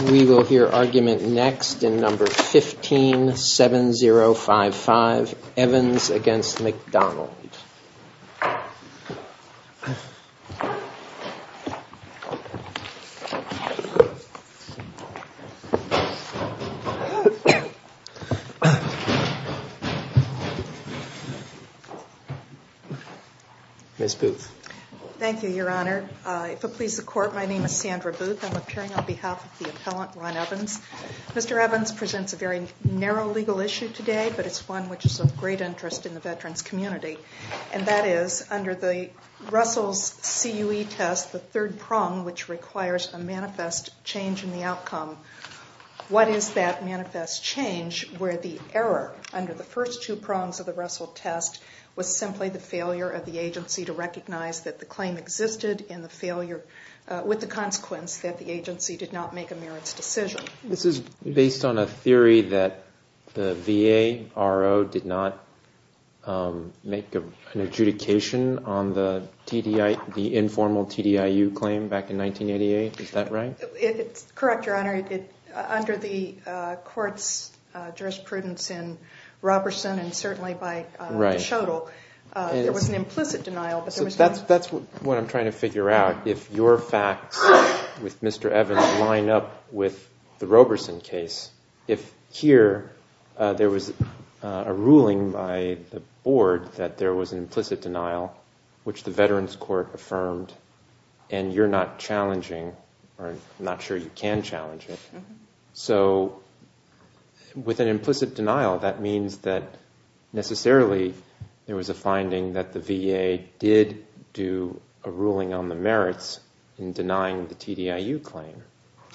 We will hear argument next in number 157055, Evans v. McDonald. Ms. Booth. Thank you, Your Honor. If it pleases the court, my name is Sandra Booth. I'm appearing on behalf of the appellant Ron Evans. Mr. Evans presents a very narrow legal issue today, but it's one which is of great interest in the veterans community. And that is under the Russell's CUE test, the third prong, which requires a manifest change in the outcome. What is that manifest change where the error under the first two prongs of the Russell test was simply the failure of the agency to recognize that the claim existed, and the failure with the consequence that the agency did not make a merits decision? This is based on a theory that the V.A.R.O. did not make an adjudication on the informal TDIU claim back in 1988. Is that right? It's correct, Your Honor. Under the court's jurisprudence in Roberson and certainly by Schoedl, there was an implicit denial. So that's what I'm trying to figure out. If your facts with Mr. Evans line up with the Roberson case, if here there was a ruling by the board that there was an implicit denial, which the Veterans Court affirmed, and you're not challenging or not sure you can challenge it. So with an implicit denial, that means that necessarily there was a finding that the V.A.R.O. did do a ruling on the merits in denying the TDIU claim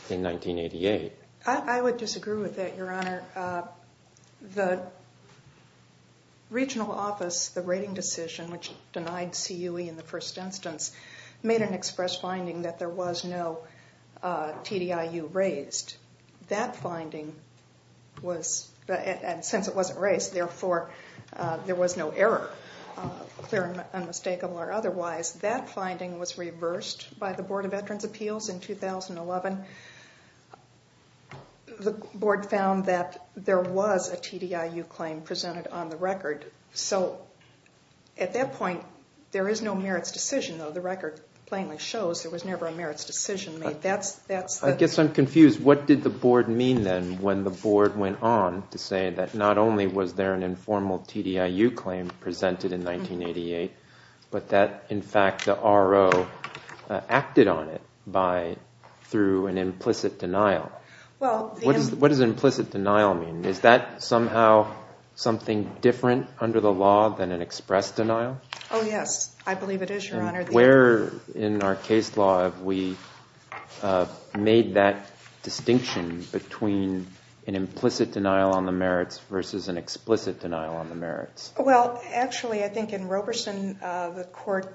in 1988. I would disagree with that, Your Honor. The regional office, the rating decision, which denied CUE in the first instance, made an express finding that there was no TDIU raised. That finding was, and since it wasn't raised, therefore there was no error, clear and unmistakable or otherwise, that finding was reversed by the Board of Veterans' Appeals in 2011. The board found that there was a TDIU claim presented on the record. So at that point, there is no merits decision, though the record plainly shows there was never a merits decision made. I guess I'm confused. What did the board mean then when the board went on to say that not only was there an informal TDIU claim presented in 1988, but that, in fact, the R.O. acted on it through an implicit denial? What does implicit denial mean? Is that somehow something different under the law than an express denial? Oh, yes. I believe it is, Your Honor. Where in our case law have we made that distinction between an implicit denial on the merits versus an explicit denial on the merits? Well, actually, I think in Roberson, the court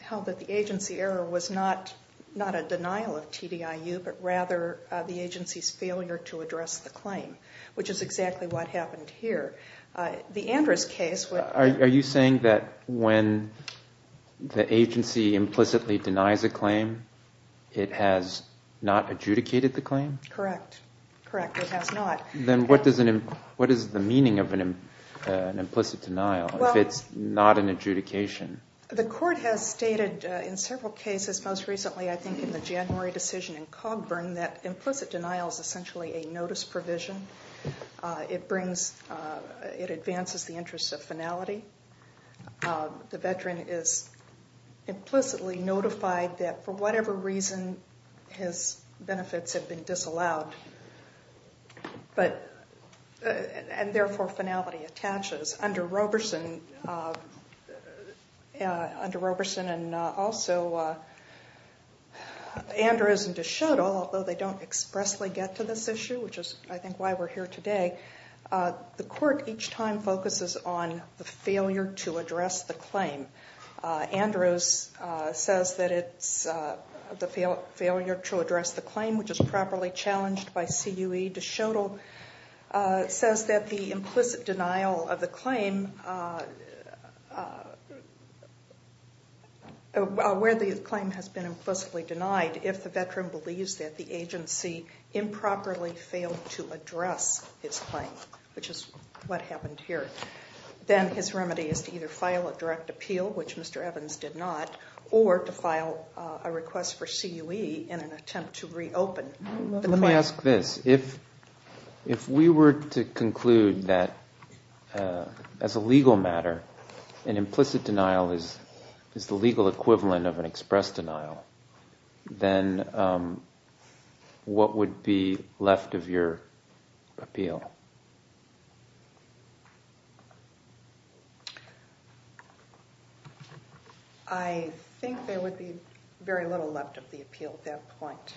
held that the agency error was not a denial of TDIU, but rather the agency's failure to address the claim, which is exactly what happened here. Are you saying that when the agency implicitly denies a claim, it has not adjudicated the claim? Correct. Correct. It has not. Then what is the meaning of an implicit denial if it's not an adjudication? The court has stated in several cases, most recently I think in the January decision in Cogburn, that implicit denial is essentially a notice provision. It advances the interests of finality. The veteran is implicitly notified that for whatever reason his benefits have been disallowed, and therefore finality attaches under Roberson. And also, Andrews and DeShoto, although they don't expressly get to this issue, which is I think why we're here today, the court each time focuses on the failure to address the claim. Andrews says that it's the failure to address the claim, which is properly challenged by CUE. DeShoto says that the implicit denial of the claim, where the claim has been implicitly denied, if the veteran believes that the agency improperly failed to address his claim, which is what happened here, then his remedy is to either file a direct appeal, which Mr. Evans did not, or to file a request for CUE in an attempt to reopen the claim. Let me ask this. If we were to conclude that, as a legal matter, an implicit denial is the legal equivalent of an express denial, then what would be left of your appeal? I think there would be very little left of the appeal at that point.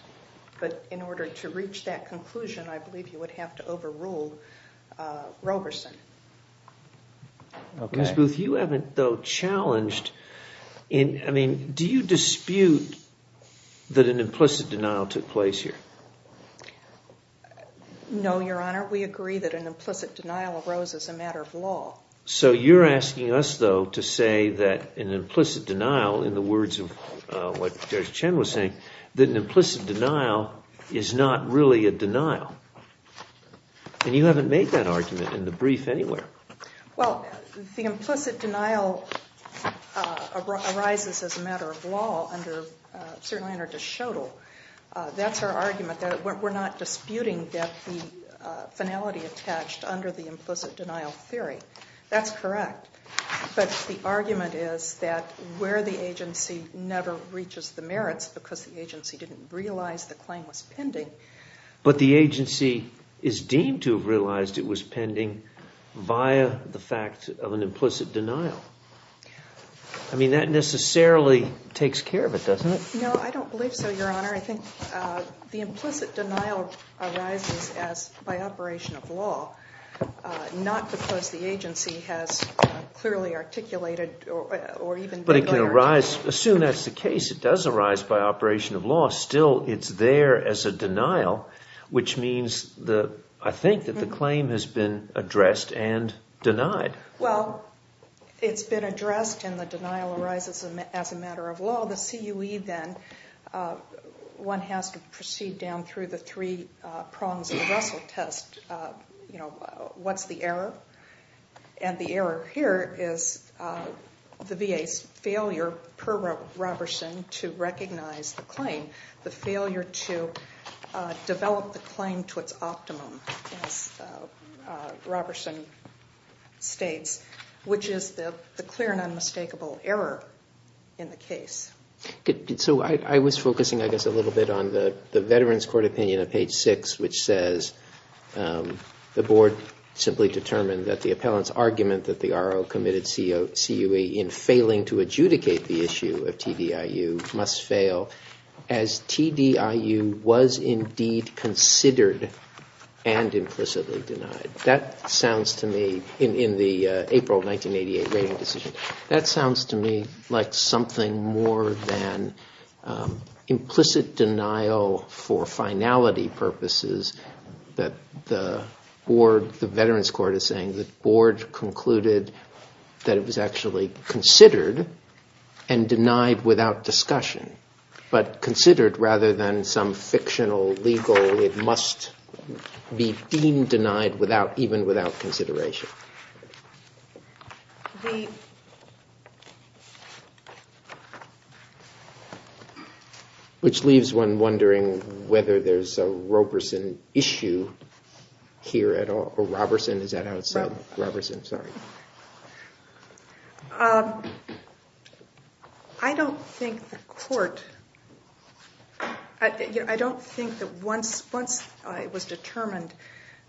But in order to reach that conclusion, I believe you would have to overrule Roberson. Ms. Booth, you haven't, though, challenged. I mean, do you dispute that an implicit denial took place here? No, Your Honor. We agree that an implicit denial arose as a matter of law. So you're asking us, though, to say that an implicit denial, in the words of what Judge Chen was saying, that an implicit denial is not really a denial. And you haven't made that argument in the brief anywhere. Well, the implicit denial arises as a matter of law, certainly under DeShoto. That's our argument. We're not disputing that the finality attached under the implicit denial theory. That's correct. But the argument is that where the agency never reaches the merits because the agency didn't realize the claim was pending. But the agency is deemed to have realized it was pending via the fact of an implicit denial. I mean, that necessarily takes care of it, doesn't it? No, I don't believe so, Your Honor. I think the implicit denial arises by operation of law, not because the agency has clearly articulated or even declared. But it can arise. Assume that's the case. It does arise by operation of law. Still, it's there as a denial, which means, I think, that the claim has been addressed and denied. Well, it's been addressed, and the denial arises as a matter of law. Well, the CUE, then, one has to proceed down through the three prongs of the Russell test. What's the error? And the error here is the VA's failure, per Roberson, to recognize the claim, the failure to develop the claim to its optimum, as Roberson states, which is the clear and unmistakable error in the case. So I was focusing, I guess, a little bit on the Veterans Court opinion of page 6, which says the board simply determined that the appellant's argument that the RO committed CUE in failing to adjudicate the issue of TDIU must fail, as TDIU was indeed considered and implicitly denied. That sounds to me, in the April 1988 rating decision, that sounds to me like something more than implicit denial for finality purposes that the board, the Veterans Court is saying that the board concluded that it was actually considered and denied without discussion, but considered rather than some fictional legal, it must be deemed denied even without consideration. The... Which leaves one wondering whether there's a Roberson issue here at all, or Roberson, is that how it's said? Roberson. Roberson, sorry. I don't think the court... I don't think that once it was determined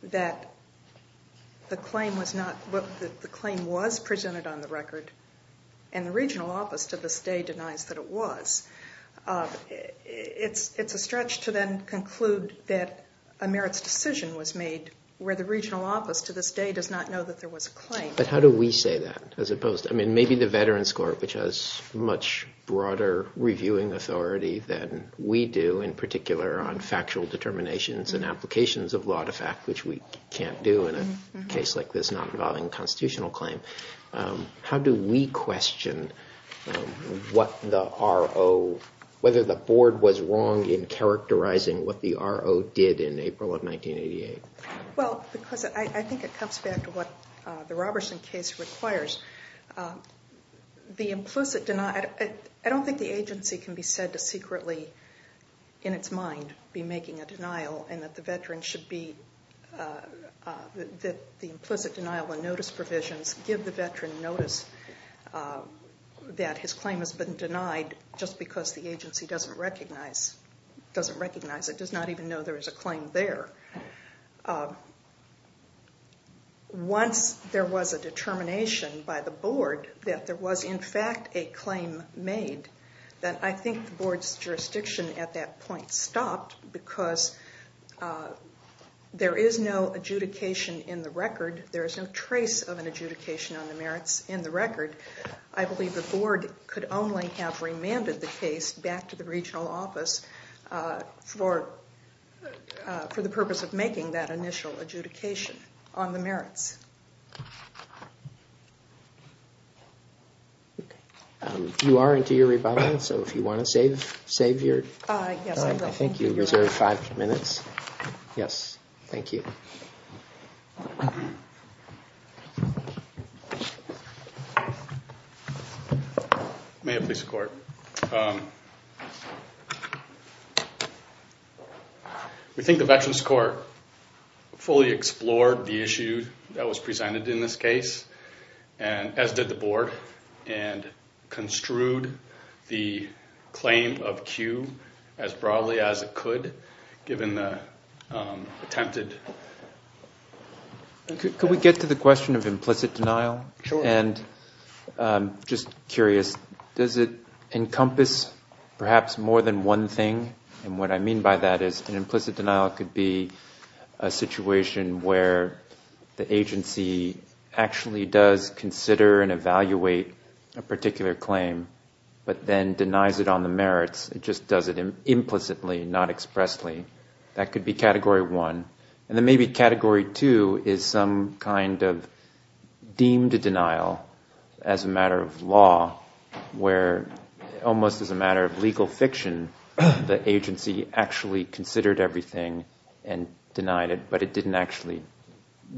that the claim was presented on the record, and the regional office to this day denies that it was, it's a stretch to then conclude that a merits decision was made where the regional office to this day does not know that there was a claim. But how do we say that, as opposed to... I mean, maybe the Veterans Court, which has much broader reviewing authority than we do, in particular on factual determinations and applications of law to fact, which we can't do in a case like this not involving a constitutional claim. How do we question what the RO, whether the board was wrong in characterizing what the RO did in April of 1988? Well, because I think it comes back to what the Roberson case requires. The implicit denial... I don't think the agency can be said to secretly, in its mind, be making a denial, and that the Veteran should be... that the implicit denial of notice provisions give the Veteran notice that his claim has been denied just because the agency doesn't recognize it, does not even know there is a claim there. Once there was a determination by the board that there was, in fact, a claim made, then I think the board's jurisdiction at that point stopped, because there is no adjudication in the record, there is no trace of an adjudication on the merits in the record. I believe the board could only have remanded the case back to the regional office for the purpose of making that initial adjudication on the merits. You are into your rebuttal, so if you want to save your... Yes, I will. I think you reserved five minutes. Yes, thank you. May it please the court. We think the Veterans Court fully explored the issue that was presented in this case, as did the board, and construed the claim of Q as broadly as it could, given the attempted... Could we get to the question of implicit denial? Sure. And I'm just curious, does it encompass perhaps more than one thing? And what I mean by that is an implicit denial could be a situation where the agency actually does consider and evaluate a particular claim, but then denies it on the merits. It just does it implicitly, not expressly. That could be category one. And then maybe category two is some kind of deemed denial as a matter of law, where almost as a matter of legal fiction, the agency actually considered everything and denied it, but it didn't actually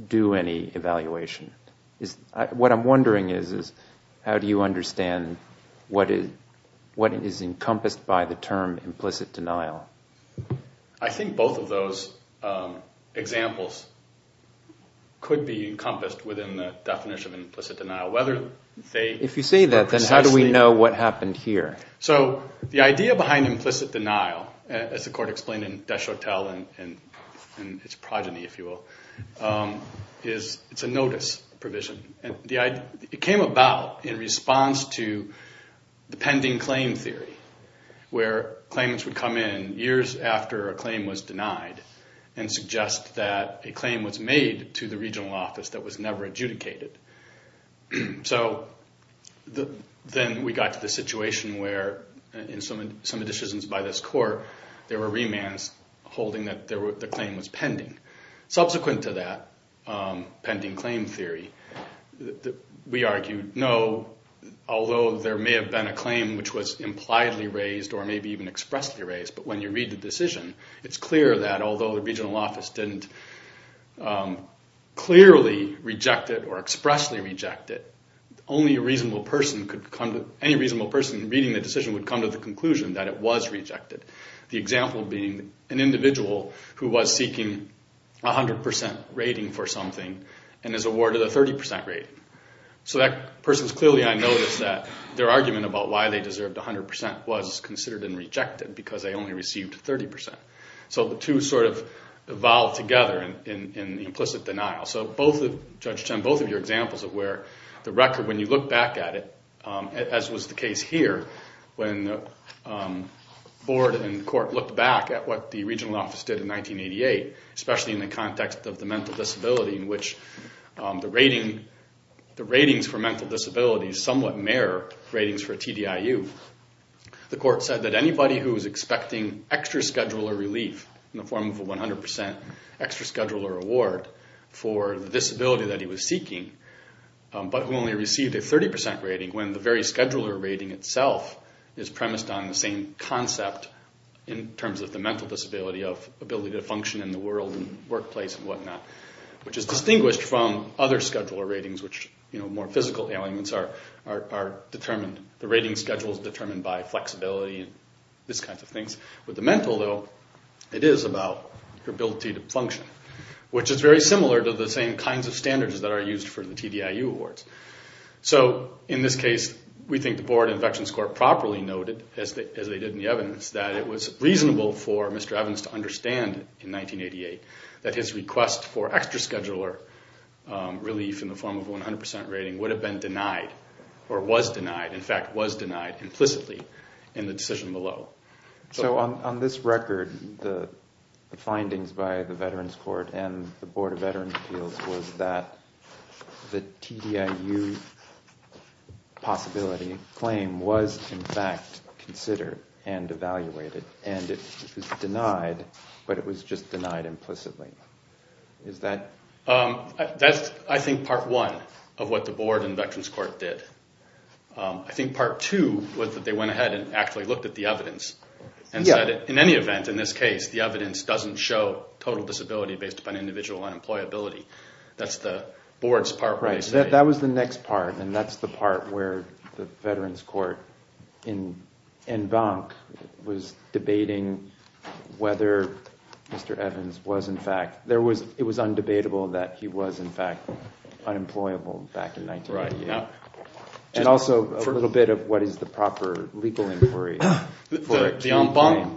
do any evaluation. What I'm wondering is how do you understand what is encompassed by the term implicit denial? I think both of those examples could be encompassed within the definition of implicit denial, whether they... If you say that, then how do we know what happened here? So the idea behind implicit denial, as the court explained in Deschotel and its progeny, if you will, is it's a notice provision. It came about in response to the pending claim theory, where claimants would come in years after a claim was denied and suggest that a claim was made to the regional office that was never adjudicated. So then we got to the situation where in some decisions by this court, there were remands holding that the claim was pending. Subsequent to that pending claim theory, we argued, no, although there may have been a claim which was impliedly raised or maybe even expressly raised, but when you read the decision, it's clear that although the regional office didn't clearly reject it or expressly reject it, only a reasonable person could come to... Any reasonable person reading the decision would come to the conclusion that it was rejected. The example being an individual who was seeking 100% rating for something and is awarded a 30% rating. So that person is clearly on notice that their argument about why they deserved 100% was considered and rejected because they only received 30%. So the two sort of evolved together in implicit denial. So Judge Chen, both of your examples of where the record, when you look back at it, as was the case here, when the board and court looked back at what the regional office did in 1988, especially in the context of the mental disability in which the ratings for mental disabilities somewhat mirror ratings for TDIU, the court said that anybody who was expecting extra scheduler relief in the form of a 100% extra scheduler award for the disability that he was seeking but who only received a 30% rating when the very scheduler rating itself is premised on the same concept in terms of the mental disability which is distinguished from other scheduler ratings, which more physical ailments are determined. The rating schedule is determined by flexibility and these kinds of things. With the mental, though, it is about your ability to function, which is very similar to the same kinds of standards that are used for the TDIU awards. So in this case, we think the board and Infections Court properly noted, as they did in the evidence, that it was reasonable for Mr. Evans to understand in 1988 that his request for extra scheduler relief in the form of a 100% rating would have been denied or was denied, in fact, was denied implicitly in the decision below. So on this record, the findings by the Veterans Court and the Board of Veterans Appeals was that the TDIU possibility claim was in fact considered and evaluated and it was denied, but it was just denied implicitly. That's, I think, part one of what the board and Veterans Court did. I think part two was that they went ahead and actually looked at the evidence and said in any event, in this case, the evidence doesn't show total disability based upon individual unemployability. That's the board's part where they say... ...whether Mr. Evans was, in fact, it was undebatable that he was, in fact, unemployable back in 1988. And also a little bit of what is the proper legal inquiry for a key claim.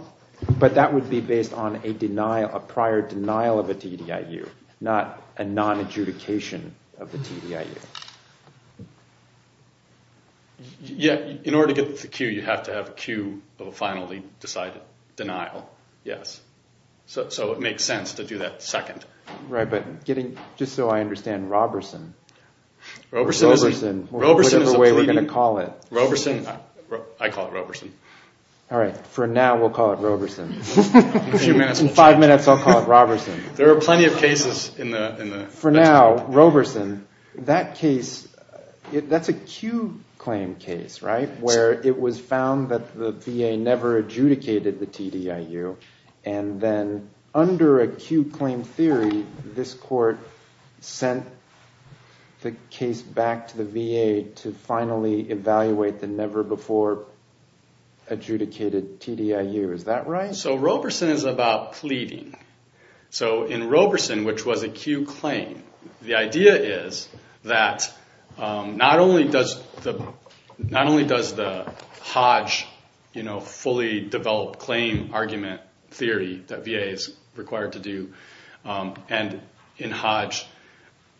But that would be based on a prior denial of a TDIU, not a nonadjudication of the TDIU. In order to get the cue, you have to have a cue of a finally decided denial, yes. So it makes sense to do that second. Right, but getting, just so I understand, Roberson. Roberson is a pleading. Whatever way we're going to call it. Roberson, I call it Roberson. All right, for now, we'll call it Roberson. In five minutes, I'll call it Roberson. There are plenty of cases in the... For now, Roberson, that case, that's a cue claim case, right? Where it was found that the VA never adjudicated the TDIU. And then under a cue claim theory, this court sent the case back to the VA to finally evaluate the never before adjudicated TDIU. Is that right? So Roberson is about pleading. So in Roberson, which was a cue claim, the idea is that not only does the Hodge fully developed claim argument theory that VA is required to do, and in Hodge,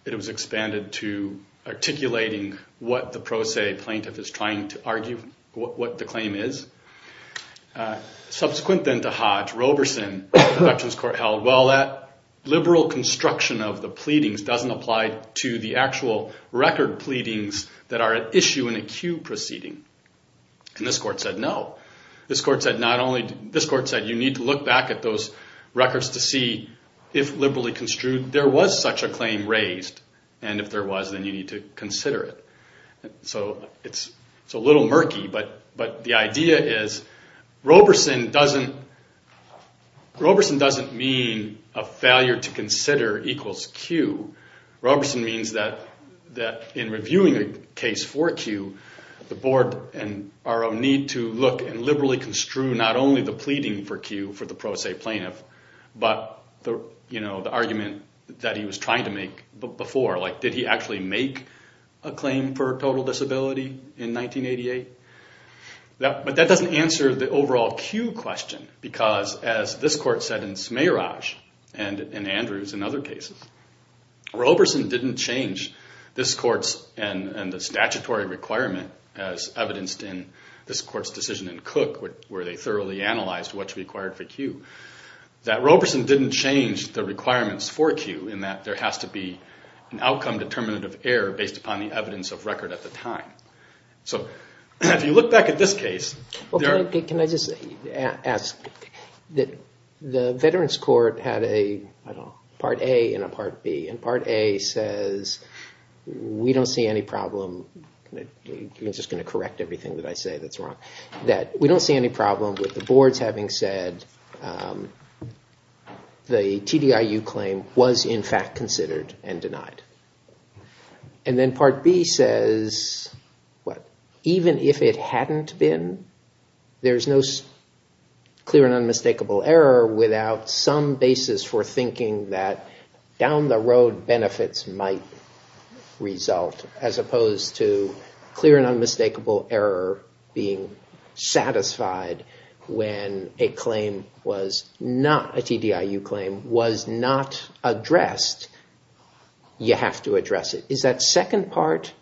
it was expanded to articulating what the pro se plaintiff is trying to argue, what the claim is. Subsequent then to Hodge, Roberson, the protections court held, well, that liberal construction of the pleadings doesn't apply to the actual record pleadings that are at issue in a cue proceeding. And this court said no. This court said not only... This court said you need to look back at those records to see if liberally construed there was such a claim raised, and if there was, then you need to consider it. So it's a little murky, but the idea is Roberson doesn't mean a failure to consider equals cue. Roberson means that in reviewing a case for a cue, the board and RO need to look and liberally construe not only the pleading for cue for the pro se plaintiff, but the argument that he was trying to make before. Like, did he actually make a claim for total disability in 1988? But that doesn't answer the overall cue question, because as this court said in Smayraj and in Andrews and other cases, Roberson didn't change this court's and the statutory requirement as evidenced in this court's decision in Cook where they thoroughly analyzed what's required for cue. That Roberson didn't change the requirements for cue in that there has to be an outcome determinative error based upon the evidence of record at the time. So if you look back at this case, there are... Can I just ask that the Veterans Court had a Part A and a Part B, and Part A says we don't see any problem. I'm just going to correct everything that I say that's wrong. That we don't see any problem with the boards having said the TDIU claim was in fact considered and denied. And then Part B says, even if it hadn't been, there's no clear and unmistakable error without some basis for thinking that down the road benefits might result as opposed to clear and unmistakable error being addressed, you have to address it. Is that second part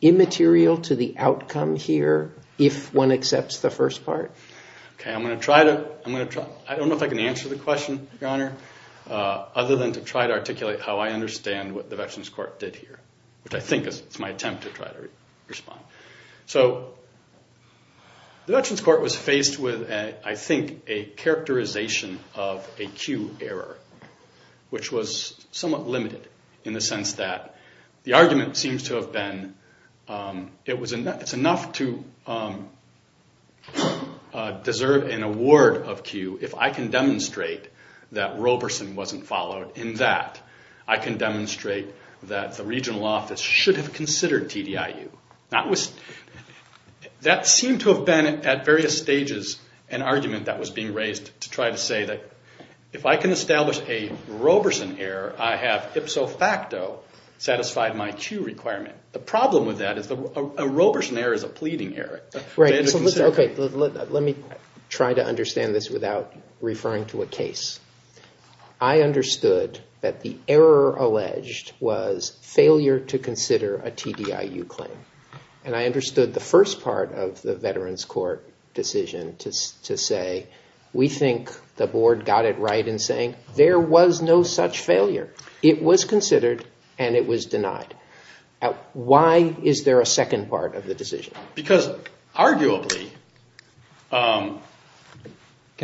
immaterial to the outcome here if one accepts the first part? I don't know if I can answer the question, Your Honor, other than to try to articulate how I understand what the Veterans Court did here, which I think is my attempt to try to respond. So the Veterans Court was faced with, I think, a characterization of a cue error, which was somewhat limited in the sense that the argument seems to have been it's enough to deserve an award of cue if I can demonstrate that Roberson wasn't followed, and that I can demonstrate that the regional office should have considered TDIU. That seemed to have been at various stages an argument that was being established a Roberson error, I have ipso facto satisfied my cue requirement. The problem with that is a Roberson error is a pleading error. Let me try to understand this without referring to a case. I understood that the error alleged was failure to consider a TDIU claim. And I understood the first part of the Veterans Court decision to say we think the board got it right in saying there was no such failure. It was considered and it was denied. Why is there a second part of the decision? Because arguably... Can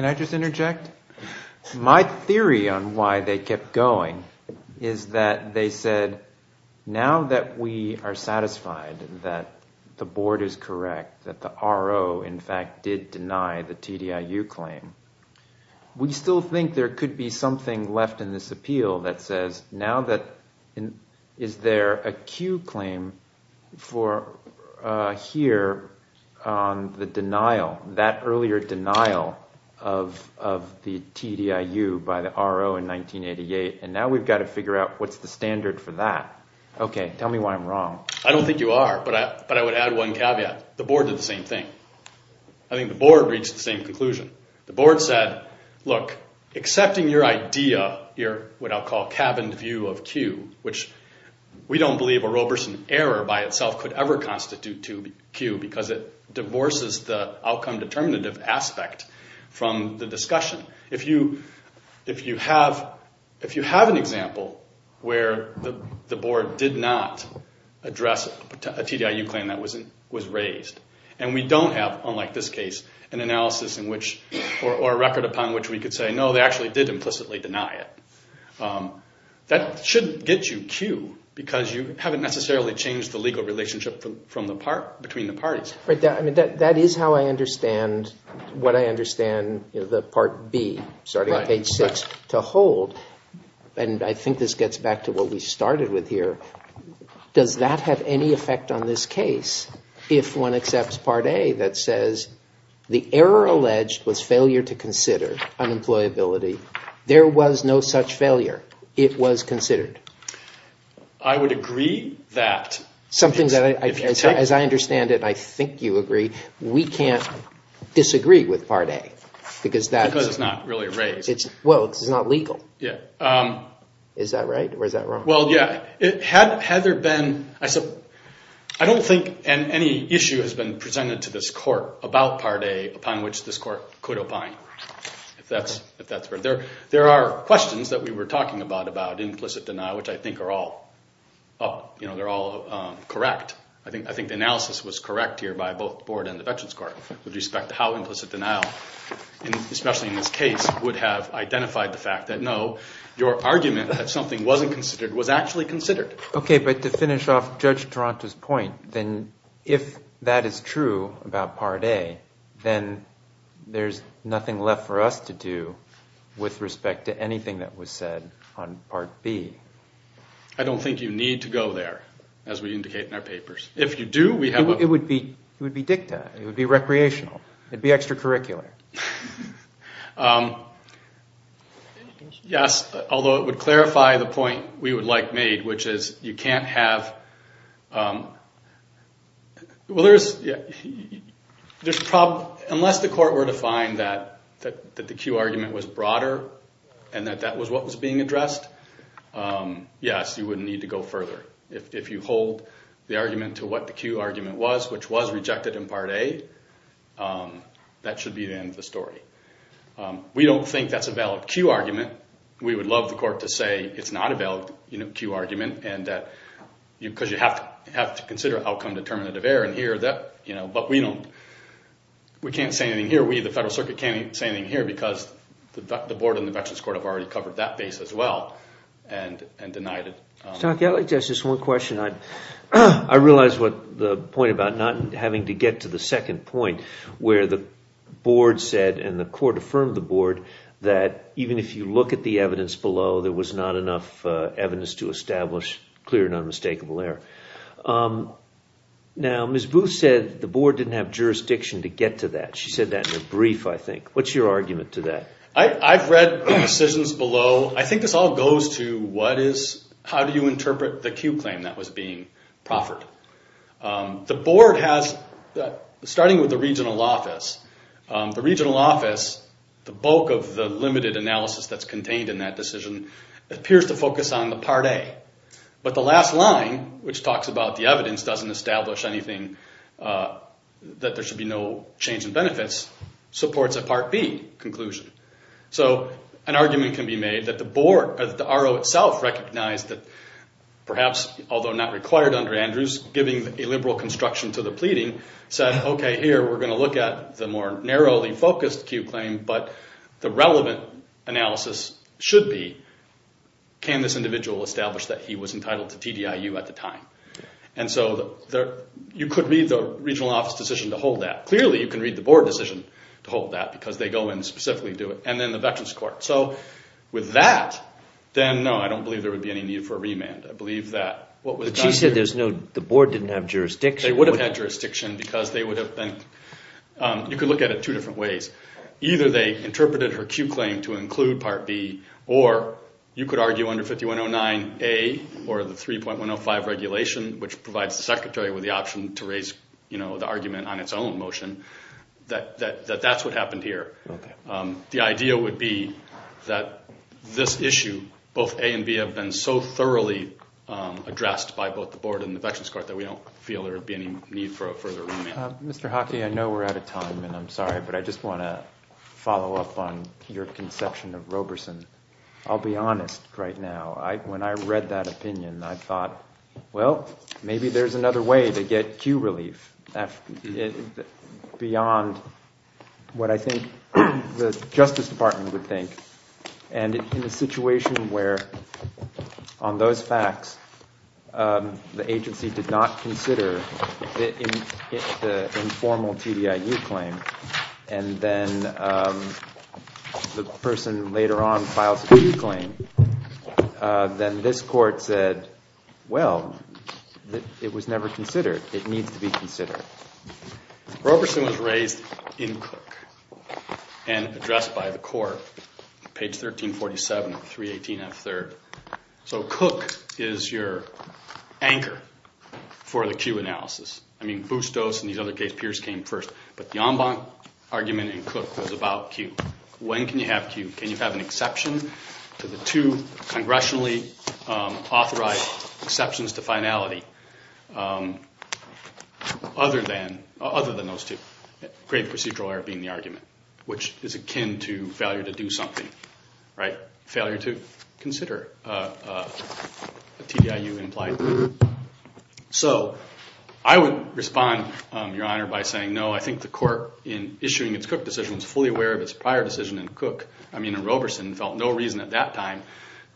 I just interject? My theory on why they kept going is that they said now that we are satisfied that the board is correct, that the RO in fact did deny the TDIU claim, we still think there could be something left in this appeal that says now that is there a cue claim for here on the denial, that earlier denial of the TDIU by the RO in 1988, and now we've got to figure out what's the standard for that. Okay, tell me why I'm wrong. I don't think you are, but I would add one caveat. The board did the same thing. I think the board reached the same conclusion. The board said, look, accepting your idea, what I'll call cabin view of cue, which we don't believe a Roberson error by itself could ever constitute cue because it divorces the outcome determinative aspect from the discussion. If you have an example where the board did not address a TDIU claim that was raised, and we don't have, unlike this case, an analysis or a record upon which we could say, no, they actually did implicitly deny it, that shouldn't get you cue because you haven't necessarily changed the legal relationship between the parties. That is how I understand what I understand the Part B, starting at page 6, to hold, and I think this gets back to what we started with here. Does that have any effect on this case if one accepts Part A that says, the error alleged was failure to consider unemployability. There was no such failure. It was considered. I would agree that. As I understand it, I think you agree, we can't disagree with Part A. Because it's not really raised. Well, it's not legal. Is that right or is that wrong? Well, yeah. Had there been, I don't think any issue has been presented to this court about Part A upon which this court could opine. There are questions that we were talking about, about implicit denial, which I think are all correct. I think the analysis was correct here by both the Board and the Veterans Court with respect to how implicit denial, especially in this case, would have identified the fact that, no, your argument that something wasn't considered was actually considered. Okay, but to finish off Judge Taranto's point, then if that is true about Part A, then there's nothing left for us to do with respect to anything that was said on Part B. I don't think you need to go there, as we indicate in our papers. If you do, we have a... It would be dicta. It would be recreational. It would be extracurricular. Yes, although it would clarify the point we would like made, which is you can't have... Well, there's a problem. Unless the court were to find that the cue argument was broader and that that was what was being addressed, yes, you would need to go further. If you hold the argument to what the cue argument was, which was rejected in Part A, that should be the end of the story. We don't think that's a valid cue argument. We would love the court to say it's not a valid cue argument because you have to consider outcome-determinative error in here. But we can't say anything here. We, the Federal Circuit, can't say anything here because the board and the Veterans Court have already covered that base as well and denied it. Stocky, I'd like to ask just one question. I realize the point about not having to get to the second point where the board said and the court affirmed the board that even if you look at the evidence below, there was not enough evidence to establish clear and unmistakable error. Now, Ms. Booth said the board didn't have jurisdiction to get to that. She said that in a brief, I think. What's your argument to that? I've read the decisions below. I think this all goes to how do you interpret the cue claim that was being proffered. The board has, starting with the regional office, the regional office, the bulk of the limited analysis that's contained in that decision, appears to focus on the Part A. But the last line, which talks about the evidence doesn't establish anything, that there should be no change in benefits, supports a Part B conclusion. So an argument can be made that the RO itself recognized that perhaps, although not required under Andrews, giving illiberal construction to the pleading, said, okay, here, we're going to look at the more narrowly focused cue claim, but the relevant analysis should be can this individual establish that he was entitled to TDIU at the time. And so you could read the regional office decision to hold that. Clearly, you can read the board decision to hold that because they go in and specifically do it, and then the veterans court. So with that, then no, I don't believe there would be any need for a remand. I believe that what was done here. But she said the board didn't have jurisdiction. They would have had jurisdiction because they would have been, you could look at it two different ways. Either they interpreted her cue claim to include Part B, or you could argue under 5109A or the 3.105 regulation, which provides the secretary with the option to raise the argument on its own motion, that that's what happened here. The idea would be that this issue, both A and B, have been so thoroughly addressed by both the board and the veterans court that we don't feel there would be any need for a further remand. Mr. Hockey, I know we're out of time, and I'm sorry, but I just want to follow up on your conception of Roberson. I'll be honest right now. When I read that opinion, I thought, well, maybe there's another way to get cue relief beyond what I think the Justice Department would think. And in a situation where, on those facts, the agency did not consider the informal TDIU claim, and then the person later on files a cue claim, then this court said, well, it was never considered. It needs to be considered. Roberson was raised in Cook and addressed by the court, page 1347 of 318F3. So Cook is your anchor for the cue analysis. I mean, Bustos and these other case peers came first, but the en banc argument in Cook was about cue. When can you have cue? Can you have an exception to the two congressionally authorized exceptions to finality? Other than those two, grave procedural error being the argument, which is akin to failure to do something, right? Failure to consider a TDIU implied. So I would respond, Your Honor, by saying no. I think the court, in issuing its Cook decision, was fully aware of its prior decision in Cook. I mean, Roberson felt no reason at that time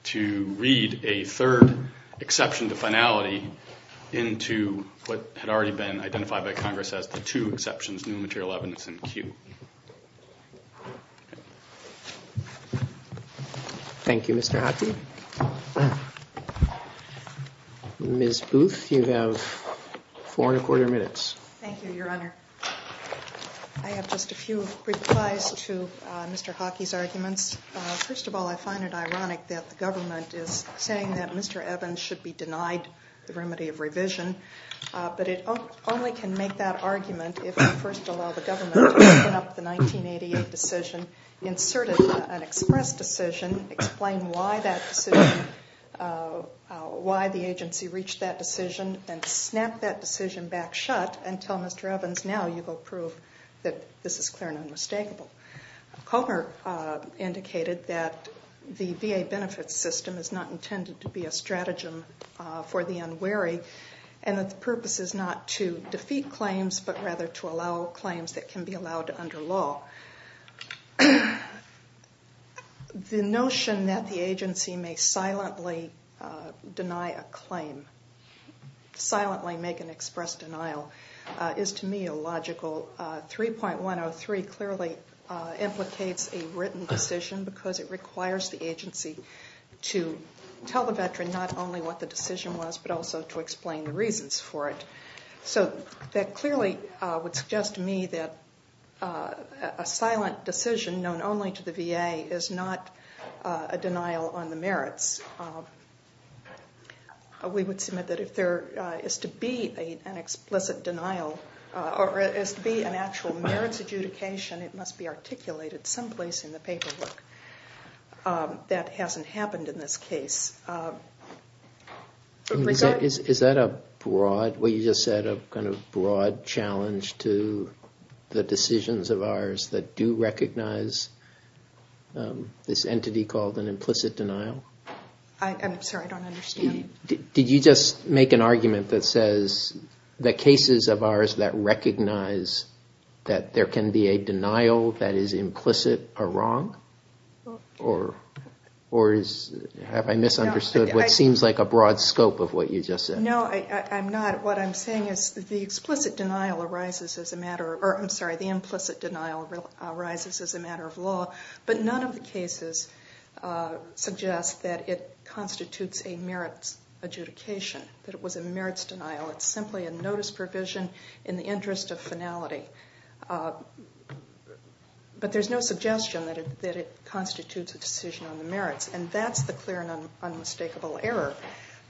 to read a third exception to finality into what had already been identified by Congress as the two exceptions, new material evidence and cue. Thank you, Mr. Hockey. Ms. Booth, you have four and a quarter minutes. Thank you, Your Honor. I have just a few replies to Mr. Hockey's arguments. First of all, I find it ironic that the government is saying that Mr. Evans should be denied the remedy of revision, but it only can make that argument if we first allow the government to open up the 1988 decision, insert an express decision, explain why that decision, why the agency reached that decision, and snap that decision back shut and tell Mr. Evans, now you go prove that this is clear and unmistakable. Comer indicated that the VA benefits system is not intended to be a stratagem for the unwary and that the purpose is not to defeat claims but rather to allow claims that can be allowed under law. The notion that the agency may silently deny a claim, silently make an express denial, is to me illogical. Article 3.103 clearly implicates a written decision because it requires the agency to tell the veteran not only what the decision was but also to explain the reasons for it. So that clearly would suggest to me that a silent decision known only to the VA is not a denial on the merits. We would submit that if there is to be an explicit denial or is to be an actual merits adjudication, it must be articulated someplace in the paperwork. That hasn't happened in this case. Is that a broad, what you just said, a kind of broad challenge to the decisions of ours that do recognize this entity called an implicit denial? I'm sorry, I don't understand. Did you just make an argument that says the cases of ours that recognize that there can be a denial that is implicit are wrong? Or have I misunderstood what seems like a broad scope of what you just said? No, I'm not. What I'm saying is the implicit denial arises as a matter of law, but none of the cases suggest that it constitutes a merits adjudication, that it was a merits denial. It's simply a notice provision in the interest of finality. But there's no suggestion that it constitutes a decision on the merits, and that's the clear and unmistakable error.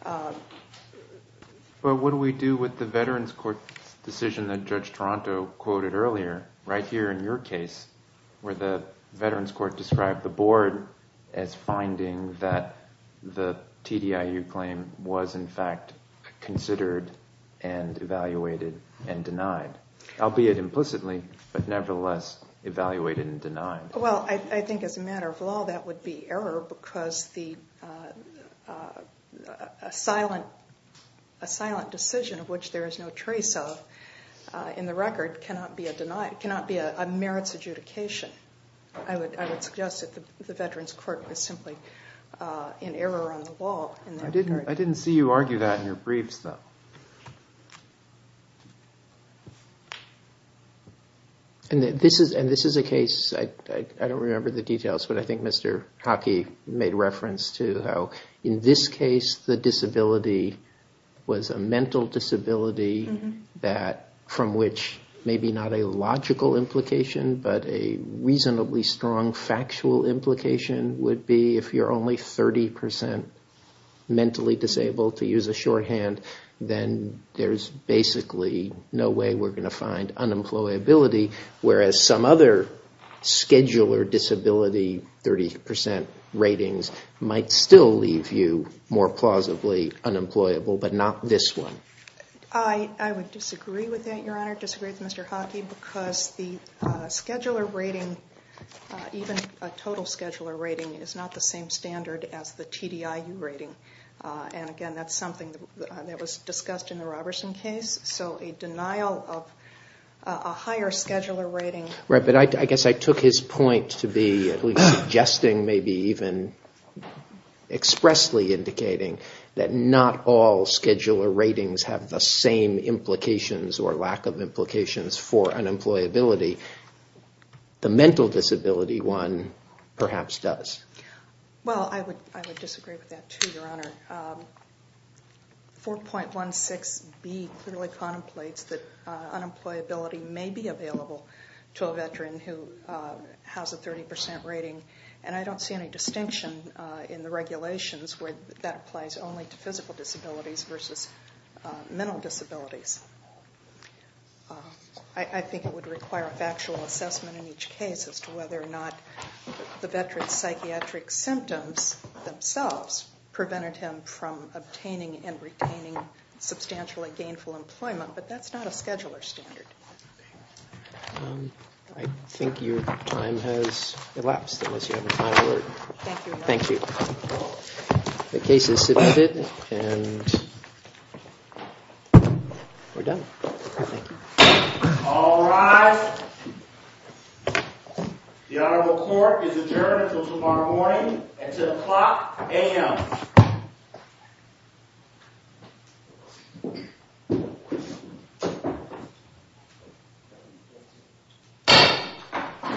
But what do we do with the Veterans Court decision that Judge Toronto quoted earlier, right here in your case where the Veterans Court described the board as finding that the TDIU claim was in fact considered and evaluated and denied, albeit implicitly, but nevertheless evaluated and denied? Well, I think as a matter of law that would be error, because a silent decision of which there is no trace of in the record cannot be a merits adjudication. I would suggest that the Veterans Court was simply in error on the wall in that regard. I didn't see you argue that in your briefs, though. And this is a case, I don't remember the details, but I think Mr. Hockey made reference to how in this case the disability was a mental disability from which maybe not a logical implication, but a reasonably strong factual implication would be if you're only 30% mentally disabled, to use a shorthand, then there's basically no way we're going to find unemployability, whereas some other scheduler disability 30% ratings might still leave you more plausibly unemployable, but not this one. I would disagree with that, Your Honor, disagree with Mr. Hockey, because the scheduler rating, even a total scheduler rating, is not the same standard as the TDIU rating. And again, that's something that was discussed in the Roberson case, so a denial of a higher scheduler rating... Right, but I guess I took his point to be at least suggesting, maybe even expressly indicating, that not all scheduler ratings have the same implications or lack of implications for unemployability. The mental disability one perhaps does. Well, I would disagree with that, too, Your Honor. 4.16b clearly contemplates that unemployability may be available to a veteran who has a 30% rating, and I don't see any distinction in the regulations where that applies only to physical disabilities versus mental disabilities. I think it would require a factual assessment in each case as to whether or not the veteran's psychiatric symptoms themselves prevented him from obtaining and retaining substantially gainful employment, but that's not a scheduler standard. I think your time has elapsed, unless you have a final word. Thank you, Your Honor. Thank you. The case is submitted, and we're done. Thank you. All rise. The Honorable Court is adjourned until tomorrow morning at 10 o'clock a.m.